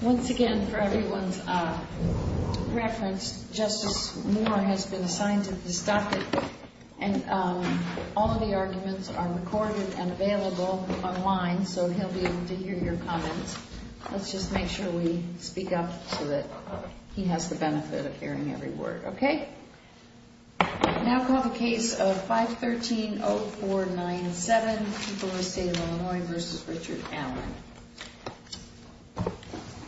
Once again, for everyone's reference, Justice Moore has been assigned to this docket, and all of the arguments are recorded and available online, so he'll be able to hear your comments. Let's just make sure we speak up so that he has the benefit of hearing every word. Okay? Now I'll call the case of 513-0497, Illinois v. Richard Allen.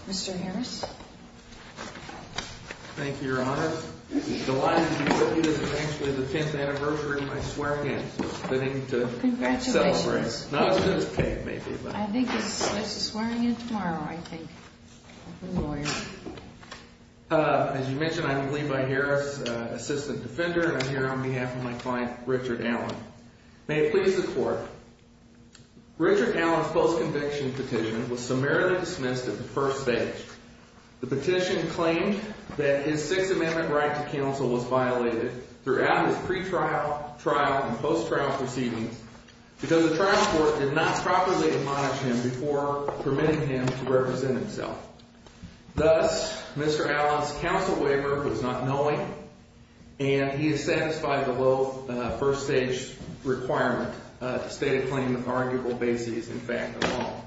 Mr. Harris? Thank you, Your Honor. This is delighted to be with you. This is actually the 10th anniversary of my swearing-in, so it's fitting to celebrate. Congratulations. Not as soon as Kate, maybe, but... I think there's a swearing-in tomorrow, I think. As you mentioned, I'm Levi Harris, Assistant Defender, and I'm here on behalf of my client, Richard Allen. May it please the Court, Richard Allen's post-conviction petition was summarily dismissed at the first stage. The petition claimed that his Sixth Amendment right to counsel was violated throughout his pretrial, trial, and post-trial proceedings because the trial court did not properly admonish him before permitting him to represent himself. Thus, Mr. Allen's counsel waiver was not knowing, and he is satisfied with the low first-stage requirement to state a claim with arguable bases, in fact, at all.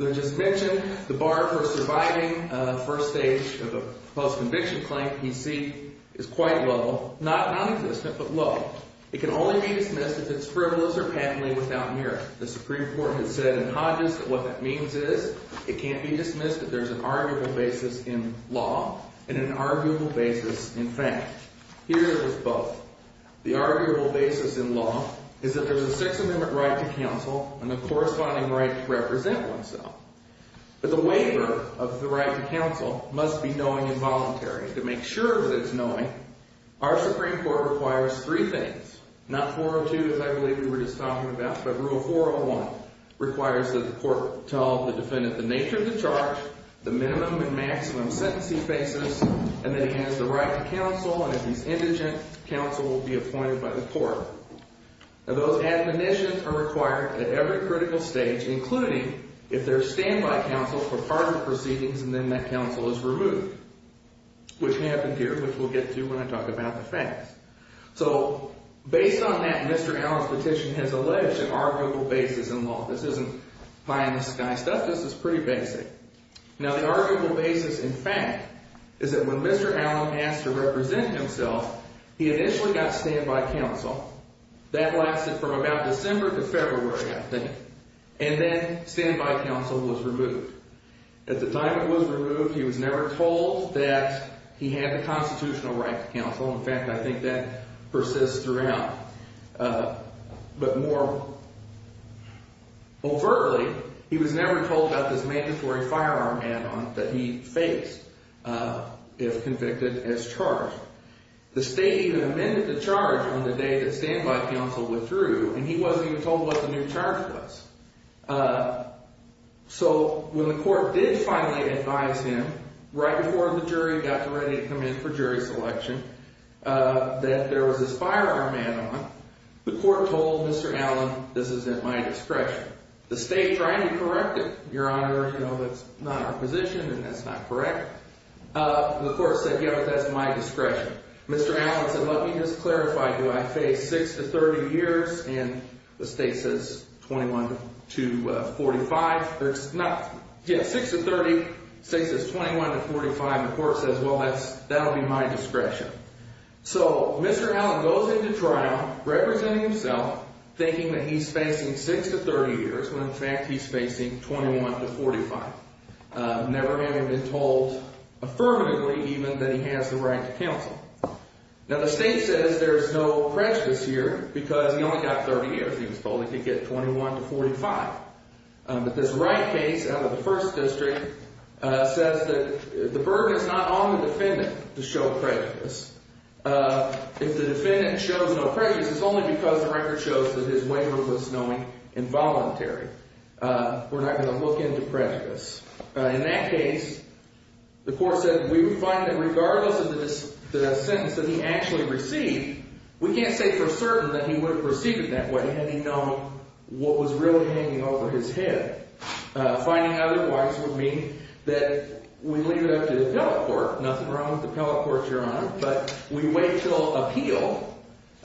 As I just mentioned, the bar for surviving first stage of a post-conviction claim, PC, is quite low. Not non-existent, but low. It can only be dismissed if it's frivolous or patently without merit. The Supreme Court has said in Hodges that what that means is it can't be dismissed if there's an arguable basis in law and an arguable basis in fact. Here, it is both. The arguable basis in law is that there's a Sixth Amendment right to counsel and a corresponding right to represent oneself. But the waiver of the right to counsel must be knowing and voluntary. To make sure that it's knowing, our Supreme Court requires three things, not 402, as I requires that the court tell the defendant the nature of the charge, the minimum and maximum sentence he faces, and that he has the right to counsel, and if he's indigent, counsel will be appointed by the court. Now, those admonitions are required at every critical stage, including if there's standby counsel for part of the proceedings and then that counsel is removed, which happened here, which we'll get to when I talk about the facts. So, based on that, Mr. Allen's petition has alleged an arguable basis in law. This isn't buy-in-the-sky stuff. This is pretty basic. Now, the arguable basis in fact is that when Mr. Allen asked to represent himself, he initially got standby counsel. That lasted from about December to February, I think, and then standby counsel was removed. At the time it was removed, he was never told that he had the constitutional right to counsel. In fact, I think that persists throughout. But more overtly, he was never told about this mandatory firearm add-on that he faced if convicted as charged. The state even amended the charge on the day that standby counsel withdrew, and he wasn't even told what the new charge was. So, when the court did finally advise him, right before the jury got ready to come in for jury selection, that there was this firearm add-on, the court told Mr. Allen, this is at my discretion. The state tried to correct it. Your Honor, you know, that's not our position, and that's not correct. The court said, yeah, but that's at my discretion. Mr. Allen said, well, let me just clarify. Do I face 6 to 30 years? And the state says 21 to 45. Yeah, 6 to 30. The state says 21 to 45. The court says, well, that'll be my discretion. So, Mr. Allen goes into trial representing himself, thinking that he's facing 6 to 30 years, when in fact he's facing 21 to 45, never having been told affirmatively even that he has the right to counsel. Now, the state says there's no prejudice here because he only got 30 years. He was told he could get 21 to 45. But this right case out of the First District says that the burden is not on the defendant to show prejudice. If the defendant shows no prejudice, it's only because the record shows that his waiver was knowing involuntary. We're not going to look into prejudice. In that case, the court said we would find that regardless of the sentence that he actually received, we can't say for certain that he would have perceived it that way had he known what was really hanging over his head. Finding out otherwise would mean that we leave it up to the appellate court. Nothing wrong with the appellate court, Your Honor. But we wait until appeal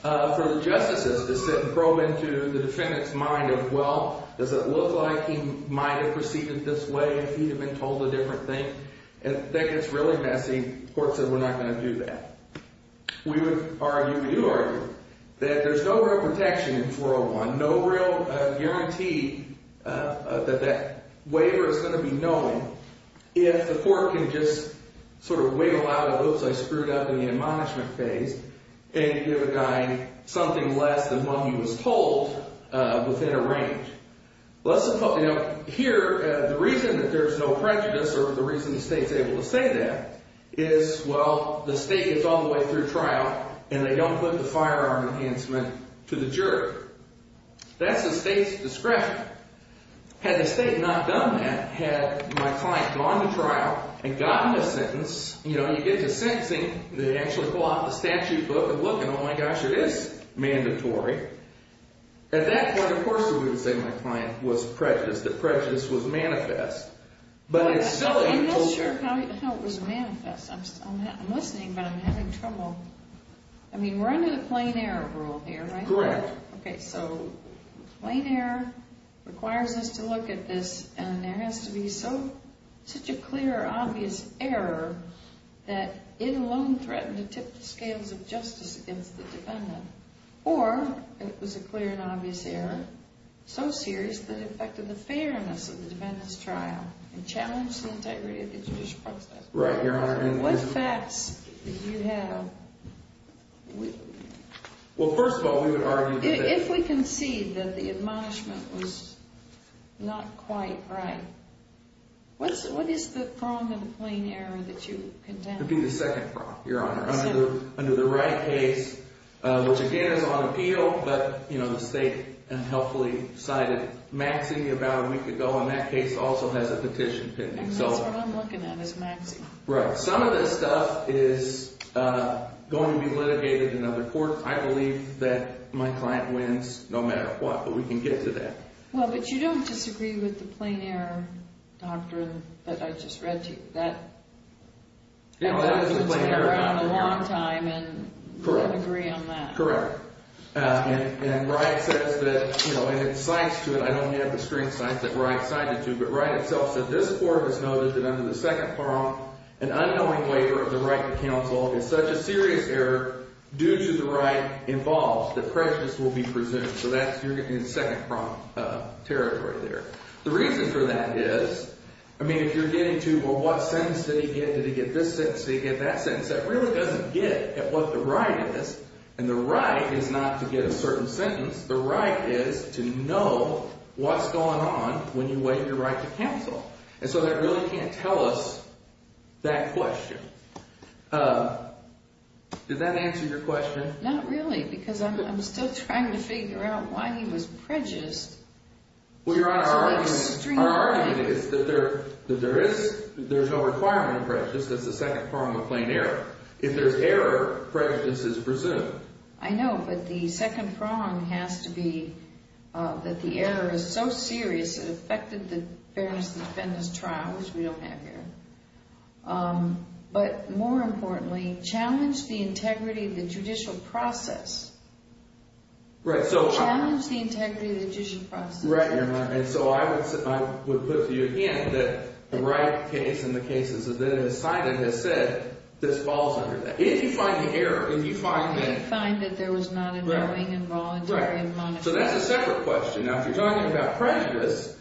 for the justices to sit and probe into the defendant's mind of, well, does it look like he might have perceived it this way if he had been told a different thing? And that gets really messy. The court said we're not going to do that. We would argue, we do argue, that there's no real protection in 401, no real guarantee that that waiver is going to be knowing if the court can just sort of wiggle out of, oops, I screwed up in the admonishment phase, and give a guy something less than what he was told within a range. Here, the reason that there's no prejudice or the reason the state's able to say that is, well, the state gets all the way through trial, and they don't put the firearm enhancement to the jury. That's the state's discretion. Had the state not done that, had my client gone to trial and gotten a sentence, you know, you get to sentencing, they actually pull out the statute book and look, and oh, my gosh, it is mandatory. At that point, of course, we wouldn't say my client was prejudiced, that prejudice was manifest. But it's still a... I'm not sure how it was manifest. I'm listening, but I'm having trouble. I mean, we're under the plain error rule here, right? Correct. Okay, so plain error requires us to look at this, and there has to be such a clear, obvious error that it alone threatened to tip the scales of justice against the defendant. Or, it was a clear and obvious error, so serious that it affected the fairness of the defendant's Right, Your Honor. What facts do you have? Well, first of all, we would argue that... If we concede that the admonishment was not quite right, what is the prong of the plain error that you condemn? It would be the second prong, Your Honor. Under the Wright case, which again is on appeal, but, you know, the state unhelpfully cited Maxey about a week ago, and that case also has a petition pending. And that's what I'm looking at, is Maxey. Right. Some of this stuff is going to be litigated in other courts. I believe that my client wins no matter what, but we can get to that. Well, but you don't disagree with the plain error doctrine that I just read to you. That... You know, that is a plain error doctrine. ...has been around a long time, and you don't agree on that. Correct. And Wright says that, you know, and it cites to it, I don't have the string cited that Wright itself said, this court has noted that under the second prong, an unknowing waiver of the right to counsel is such a serious error due to the right involved that prejudice will be presumed. So that's, you're getting in second prong territory there. The reason for that is, I mean, if you're getting to, well, what sentence did he get? Did he get this sentence? Did he get that sentence? That really doesn't get at what the right is. And the right is not to get a certain sentence. The right is to know what's going on when you waive your right to counsel. And so that really can't tell us that question. Did that answer your question? Not really, because I'm still trying to figure out why he was prejudiced. Well, Your Honor, our argument is that there is no requirement of prejudice. That's the second prong of plain error. If there's error, prejudice is presumed. I know, but the second prong has to be that the error is so serious it affected the Fairness and Defendant's trial, which we don't have here. But more importantly, challenge the integrity of the judicial process. Challenge the integrity of the judicial process. Right, Your Honor. And so I would put to you again that the right case and the cases that have been decided have said this falls under that. If you find the error, if you find that... If you find that there was not a knowing and voluntary and monetary... So that's a separate question. Now, if you're talking about prejudice,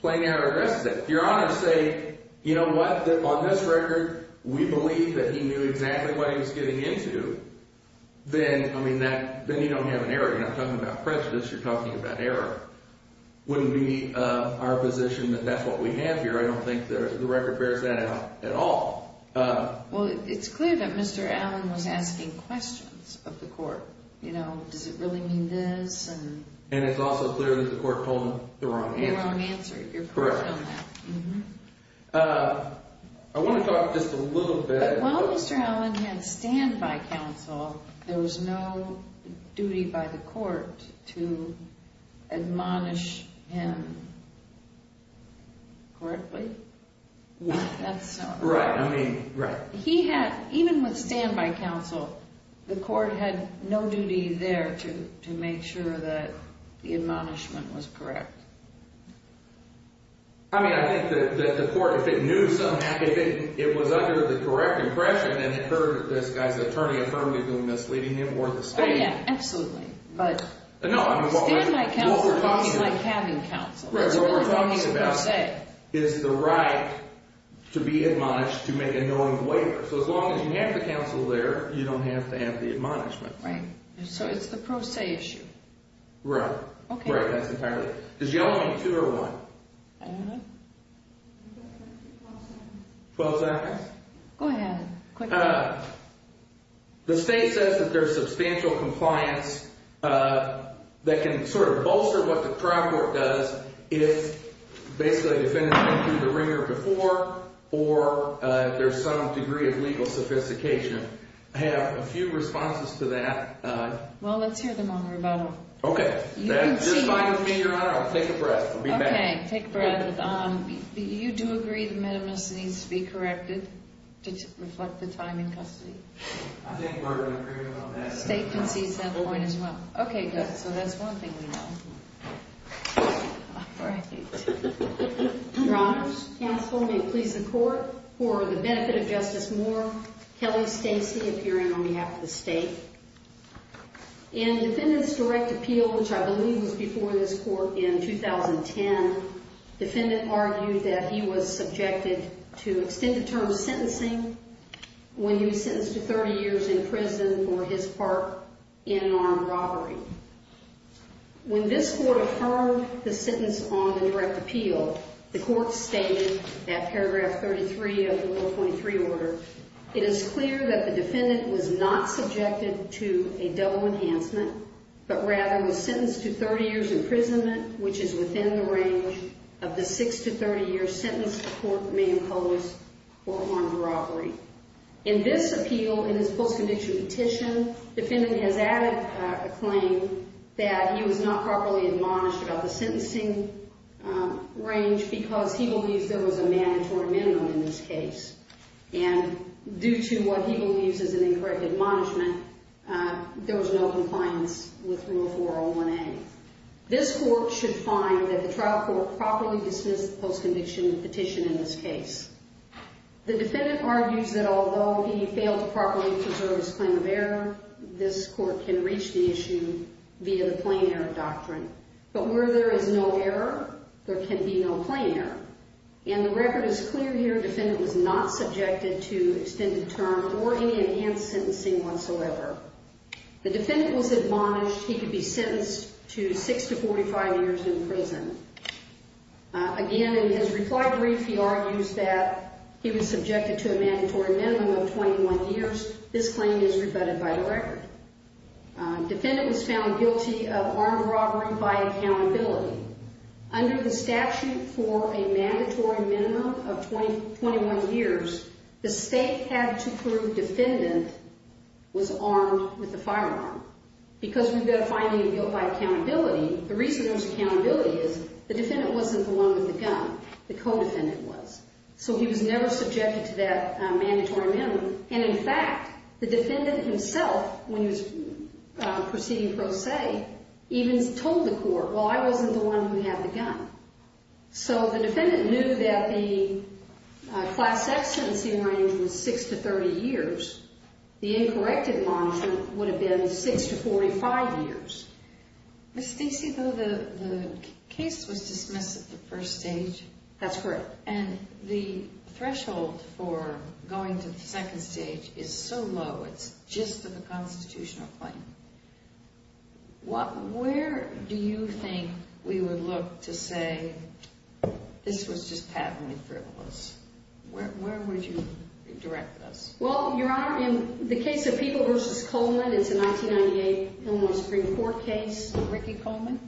plain error addresses it. If Your Honor say, you know what, on this record, we believe that he knew exactly what he was getting into, then you don't have an error. You're not talking about prejudice. You're talking about error. Wouldn't we be in our position that that's what we have here? I don't think the record bears that out at all. Well, it's clear that Mr. Allen was asking questions of the court. You know, does it really mean this? And it's also clear that the court told him the wrong answer. The wrong answer. You're correct on that. I want to talk just a little bit... While Mr. Allen had standby counsel, there was no duty by the court to admonish him courtly? That's not right. Right, I mean, right. He had, even with standby counsel, the court had no duty there to make sure that the admonishment was correct. I mean, I think that the court, if it knew something happened, if it was under the correct impression, then it heard this guy's attorney affirmatively misleading him or the stand. Oh, yeah, absolutely. But... No, I mean, what we're talking about... Standby counsel is like having counsel. Right. So what we're talking about is the right to be admonished to make a knowing waiver. So as long as you have the counsel there, you don't have to have the admonishment. Right. So it's the pro se issue. Right. Okay. Right, that's entirely it. Does y'all want two or one? I don't know. Twelve seconds? Go ahead. The state says that there's substantial compliance that can sort of bolster what the trial court does if basically a defendant went through the ringer before or there's some degree of legal sophistication. I have a few responses to that. Well, let's hear them on rebuttal. Okay. You can see... You're fine with me, Your Honor. I'll take a breath. I'll be back. Okay, take a breath. You do agree the minimus needs to be corrected to reflect the time in custody? I think we're in agreement on that. State concedes that point as well. Okay, good. So that's one thing we know. All right. Your Honors, counsel, may it please the Court, for the benefit of Justice Moore, Kelly Stacy, if you're in on behalf of the state. In the defendant's direct appeal, which I believe was before this Court in 2010, the defendant argued that he was subjected to extended term sentencing when he was sentenced to 30 years in prison for his part in an armed robbery. When this Court affirmed the sentence on the direct appeal, the Court stated at paragraph 33 of the Rule 23 order, it is clear that the defendant was not subjected to a double enhancement, but rather was sentenced to 30 years imprisonment, which is within the range of the 6 to 30 year sentence the Court may impose for an armed robbery. In this appeal, in his post-conviction petition, the defendant has added a claim that he was not properly admonished about the sentencing range because he believes there was a mandatory minimum in this case. And due to what he believes is an incorrect admonishment, there was no compliance with Rule 401A. This Court should find that the trial court properly dismissed the post-conviction petition in this case. The defendant argues that although he failed to properly preserve his claim of error, this Court can reach the issue via the plain error doctrine. But where there is no error, there can be no plain error. And the record is clear here. The defendant was not subjected to extended term or any enhanced sentencing whatsoever. The defendant was admonished. He could be sentenced to 6 to 45 years in prison. Again, in his reply brief, he argues that he was subjected to a mandatory minimum of 21 years. This claim is rebutted by the record. The defendant was found guilty of armed robbery by accountability. Under the statute for a mandatory minimum of 21 years, the state had to prove defendant was armed with a firearm. Because we've got a finding of guilt by accountability, the reason there was accountability is the defendant wasn't the one with the gun. The co-defendant was. So he was never subjected to that mandatory minimum. And in fact, the defendant himself, when he was proceeding pro se, even told the court, well, I wasn't the one who had the gun. So the defendant knew that the class X sentencing range was 6 to 30 years. The incorrect admonishment would have been 6 to 45 years. Ms. Stacey, though, the case was dismissed at the first stage. That's correct. And the threshold for going to the second stage is so low, it's just a constitutional claim. Where do you think we would look to say this was just patently frivolous? Where would you direct us? Well, Your Honor, in the case of People v. Coleman, it's a 1998 Illinois Supreme Court case. Ricky Coleman?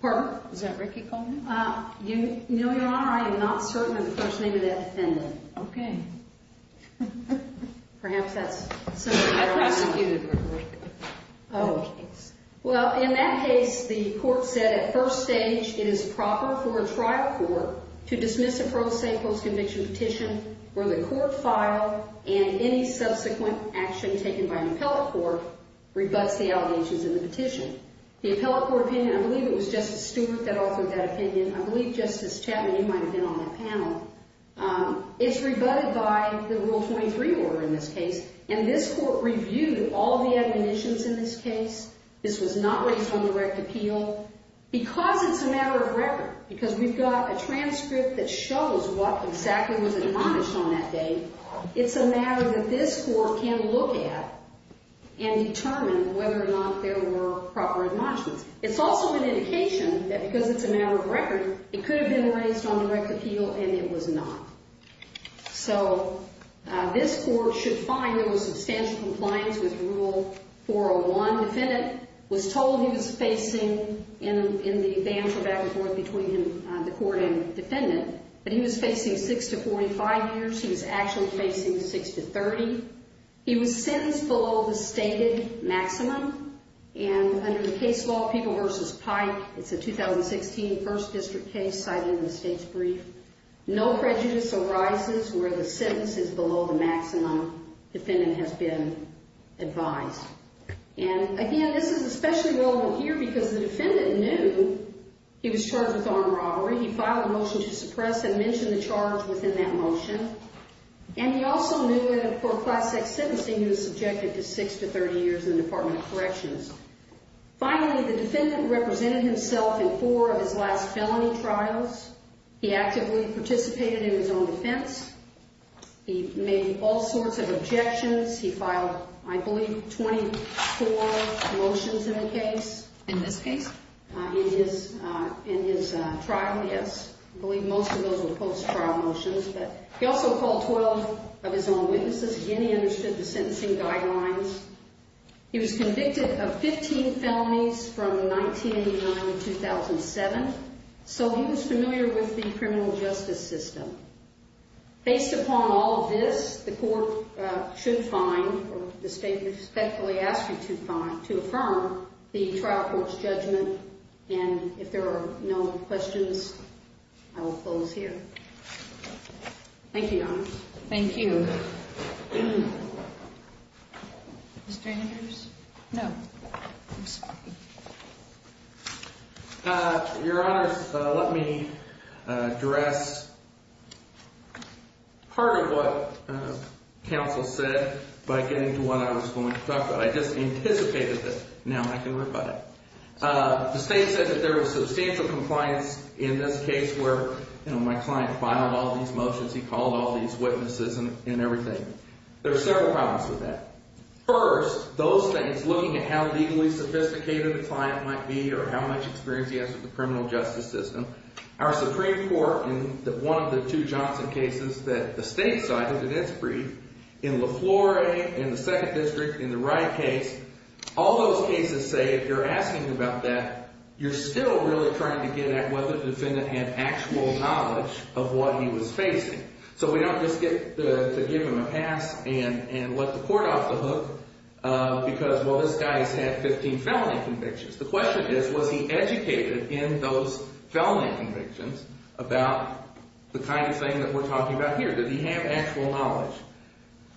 Pardon? Is that Ricky Coleman? No, Your Honor, I am not certain of the first name of that defendant. Okay. Perhaps that's something I don't know. That's a disputed record. Oh. Well, in that case, the court said at first stage, it is proper for a trial court to dismiss a pro se, post-conviction petition where the court filed and any subsequent action taken by an appellate court rebuts the allegations in the petition. The appellate court opinion, I believe it was Justice Stewart that authored that opinion. I believe Justice Chapman, you might have been on that panel. It's rebutted by the Rule 23 order in this case, and this court reviewed all the admonitions in this case. This was not raised on direct appeal. Because it's a matter of record, because we've got a transcript that shows what exactly was admonished on that day, it's a matter that this court can look at and determine whether or not there were proper admonishments. It's also an indication that because it's a matter of record, it could have been raised on direct appeal, and it was not. So, this court should find there was substantial compliance with Rule 401. Defendant was told he was facing, in the ban for back and forth between the court and defendant, that he was facing 6 to 45 years. He was actually facing 6 to 30. He was sentenced below the stated maximum, and under the case law, People v. Pike, it's a 2016 First District case cited in the state's brief, no prejudice arises where the sentence is below the maximum defendant has been advised. And, again, this is especially relevant here because the defendant knew he was charged with armed robbery. He filed a motion to suppress and mention the charge within that motion. And he also knew that for Class X sentencing, he was subjected to 6 to 30 years in the Department of Corrections. Finally, the defendant represented himself in four of his last felony trials. He actively participated in his own defense. He made all sorts of objections. He filed, I believe, 24 motions in the case. In this case? In his trial, yes. I believe most of those were post-trial motions. But he also called 12 of his own witnesses. Again, he understood the sentencing guidelines. He was convicted of 15 felonies from 1989 to 2007. So he was familiar with the criminal justice system. Based upon all of this, the court should find, or the state respectfully asks you to find, to affirm the trial court's judgment. And if there are no questions, I will close here. Thank you, Your Honor. Thank you. Mr. Andrews? No. Your Honor, let me address part of what counsel said by getting to what I was going to talk about. I just anticipated this. Now I can reply. The state said that there was substantial compliance in this case where my client filed all these motions, he called all these witnesses and everything. There are several problems with that. First, those things, looking at how legally sophisticated the client might be or how much experience he has with the criminal justice system. Our Supreme Court, in one of the two Johnson cases that the state cited in its brief, in La Flore, in the second district, in the Wright case, all those cases say if you're asking about that, you're still really trying to get at whether the defendant had actual knowledge of what he was facing. So we don't just get to give him a pass and let the court off the hook because, well, this guy has had 15 felony convictions. The question is, was he educated in those felony convictions about the kind of thing that we're talking about here? Did he have actual knowledge?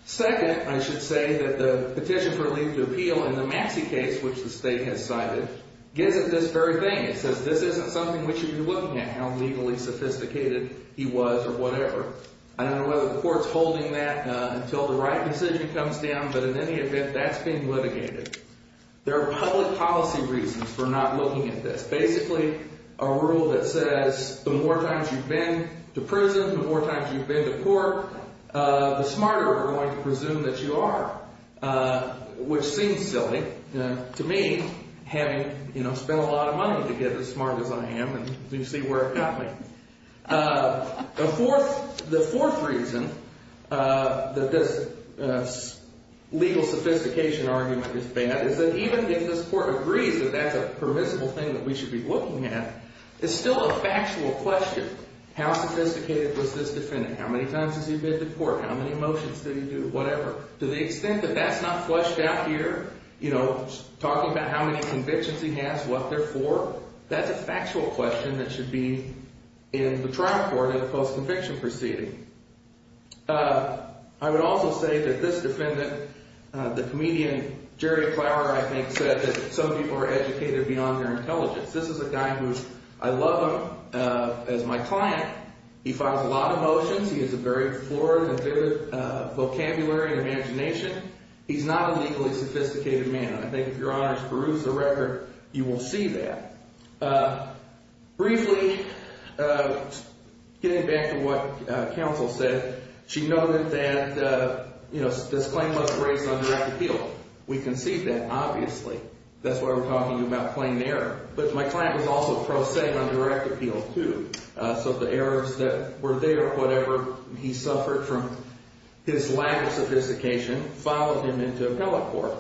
Second, I should say that the petition for leave to appeal in the Massey case, which the state has cited, gives it this very thing. It says this isn't something we should be looking at, how legally sophisticated he was or whatever. I don't know whether the court's holding that until the Wright decision comes down, but in any event, that's being litigated. There are public policy reasons for not looking at this. Basically a rule that says the more times you've been to prison, the more times you've been to court, the smarter we're going to presume that you are, which seems silly to me, having spent a lot of money to get as smart as I am. You can see where it got me. The fourth reason that this legal sophistication argument is bad is that even if this court agrees that that's a permissible thing that we should be looking at, it's still a factual question. How sophisticated was this defendant? How many times has he been to court? How many motions did he do? Whatever. To the extent that that's not fleshed out here, talking about how many convictions he has, what they're for, that's a factual question that should be in the trial court at a post-conviction proceeding. I would also say that this defendant, the comedian Jerry Flower, I think, said that some people are educated beyond their intelligence. This is a guy who I love as my client. He files a lot of motions. He has a very florid and vivid vocabulary and imagination. He's not a legally sophisticated man. I think if Your Honors peruse the record, you will see that. Briefly, getting back to what counsel said, she noted that this claim was raised on direct appeal. We concede that, obviously. That's why we're talking about plain error. But my client was also prosaic on direct appeal, too. So the errors that were there, whatever he suffered from his lack of sophistication, followed him into appellate court.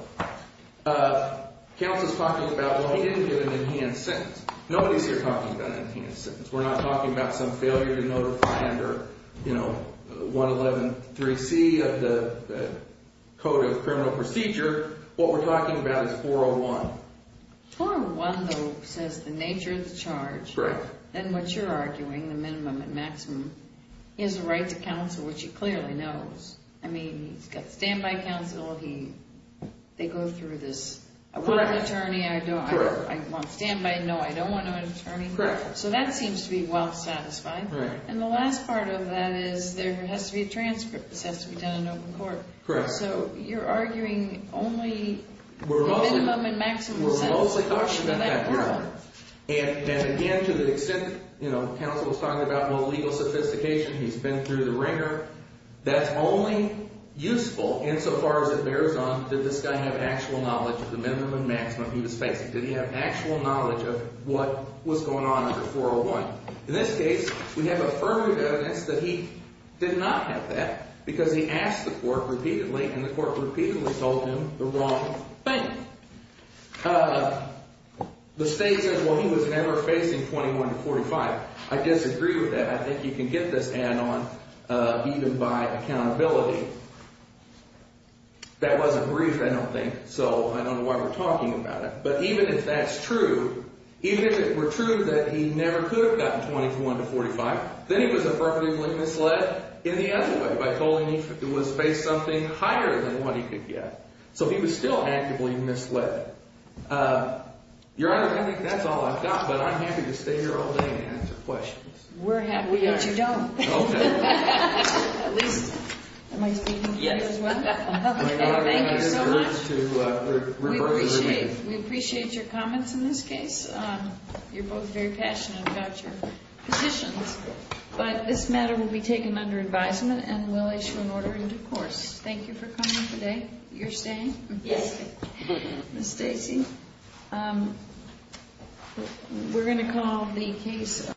Counsel's talking about, well, he didn't get an in-hand sentence. Nobody's here talking about an in-hand sentence. We're not talking about some failure to notify under 111.3c of the Code of Criminal Procedure. What we're talking about is 401. 401, though, says the nature of the charge. Then what you're arguing, the minimum and maximum, he has a right to counsel, which he clearly knows. I mean, he's got standby counsel. They go through this. I want an attorney. I want standby. No, I don't want an attorney. So that seems to be well satisfied. And the last part of that is there has to be a transcript. This has to be done in open court. So you're arguing only the minimum and maximum sentence. We're mostly talking about that. And again, to the extent counsel was talking about, well, legal sophistication, he's been through the wringer. That's only useful insofar as it bears on, did this guy have actual knowledge of the minimum and maximum he was facing? Did he have actual knowledge of what was going on under 401? In this case, we have affirmative evidence that he did not have that, because he asked the court repeatedly, and the court repeatedly told him the wrong thing. The state says, well, he was never facing 21 to 45. I disagree with that. I think you can get this ad on even by accountability. That was a brief, I don't think, so I don't know why we're talking about it. But even if that's true, even if it were true that he never could have gotten 21 to 45, then he was affirmatively misled in the other way by telling me he was facing something higher than what he could get. So he was still actively misled. Your Honor, I think that's all I've got. But I'm happy to stay here all day and answer questions. We're happy that you don't. At least, am I speaking for you as well? Thank you so much. We appreciate your comments in this case. You're both very passionate about your positions. But this matter will be taken under advisement, and we'll issue an order in divorce. Thank you for coming today. You're staying? Yes. Ms. Stacy, we're going to call the case.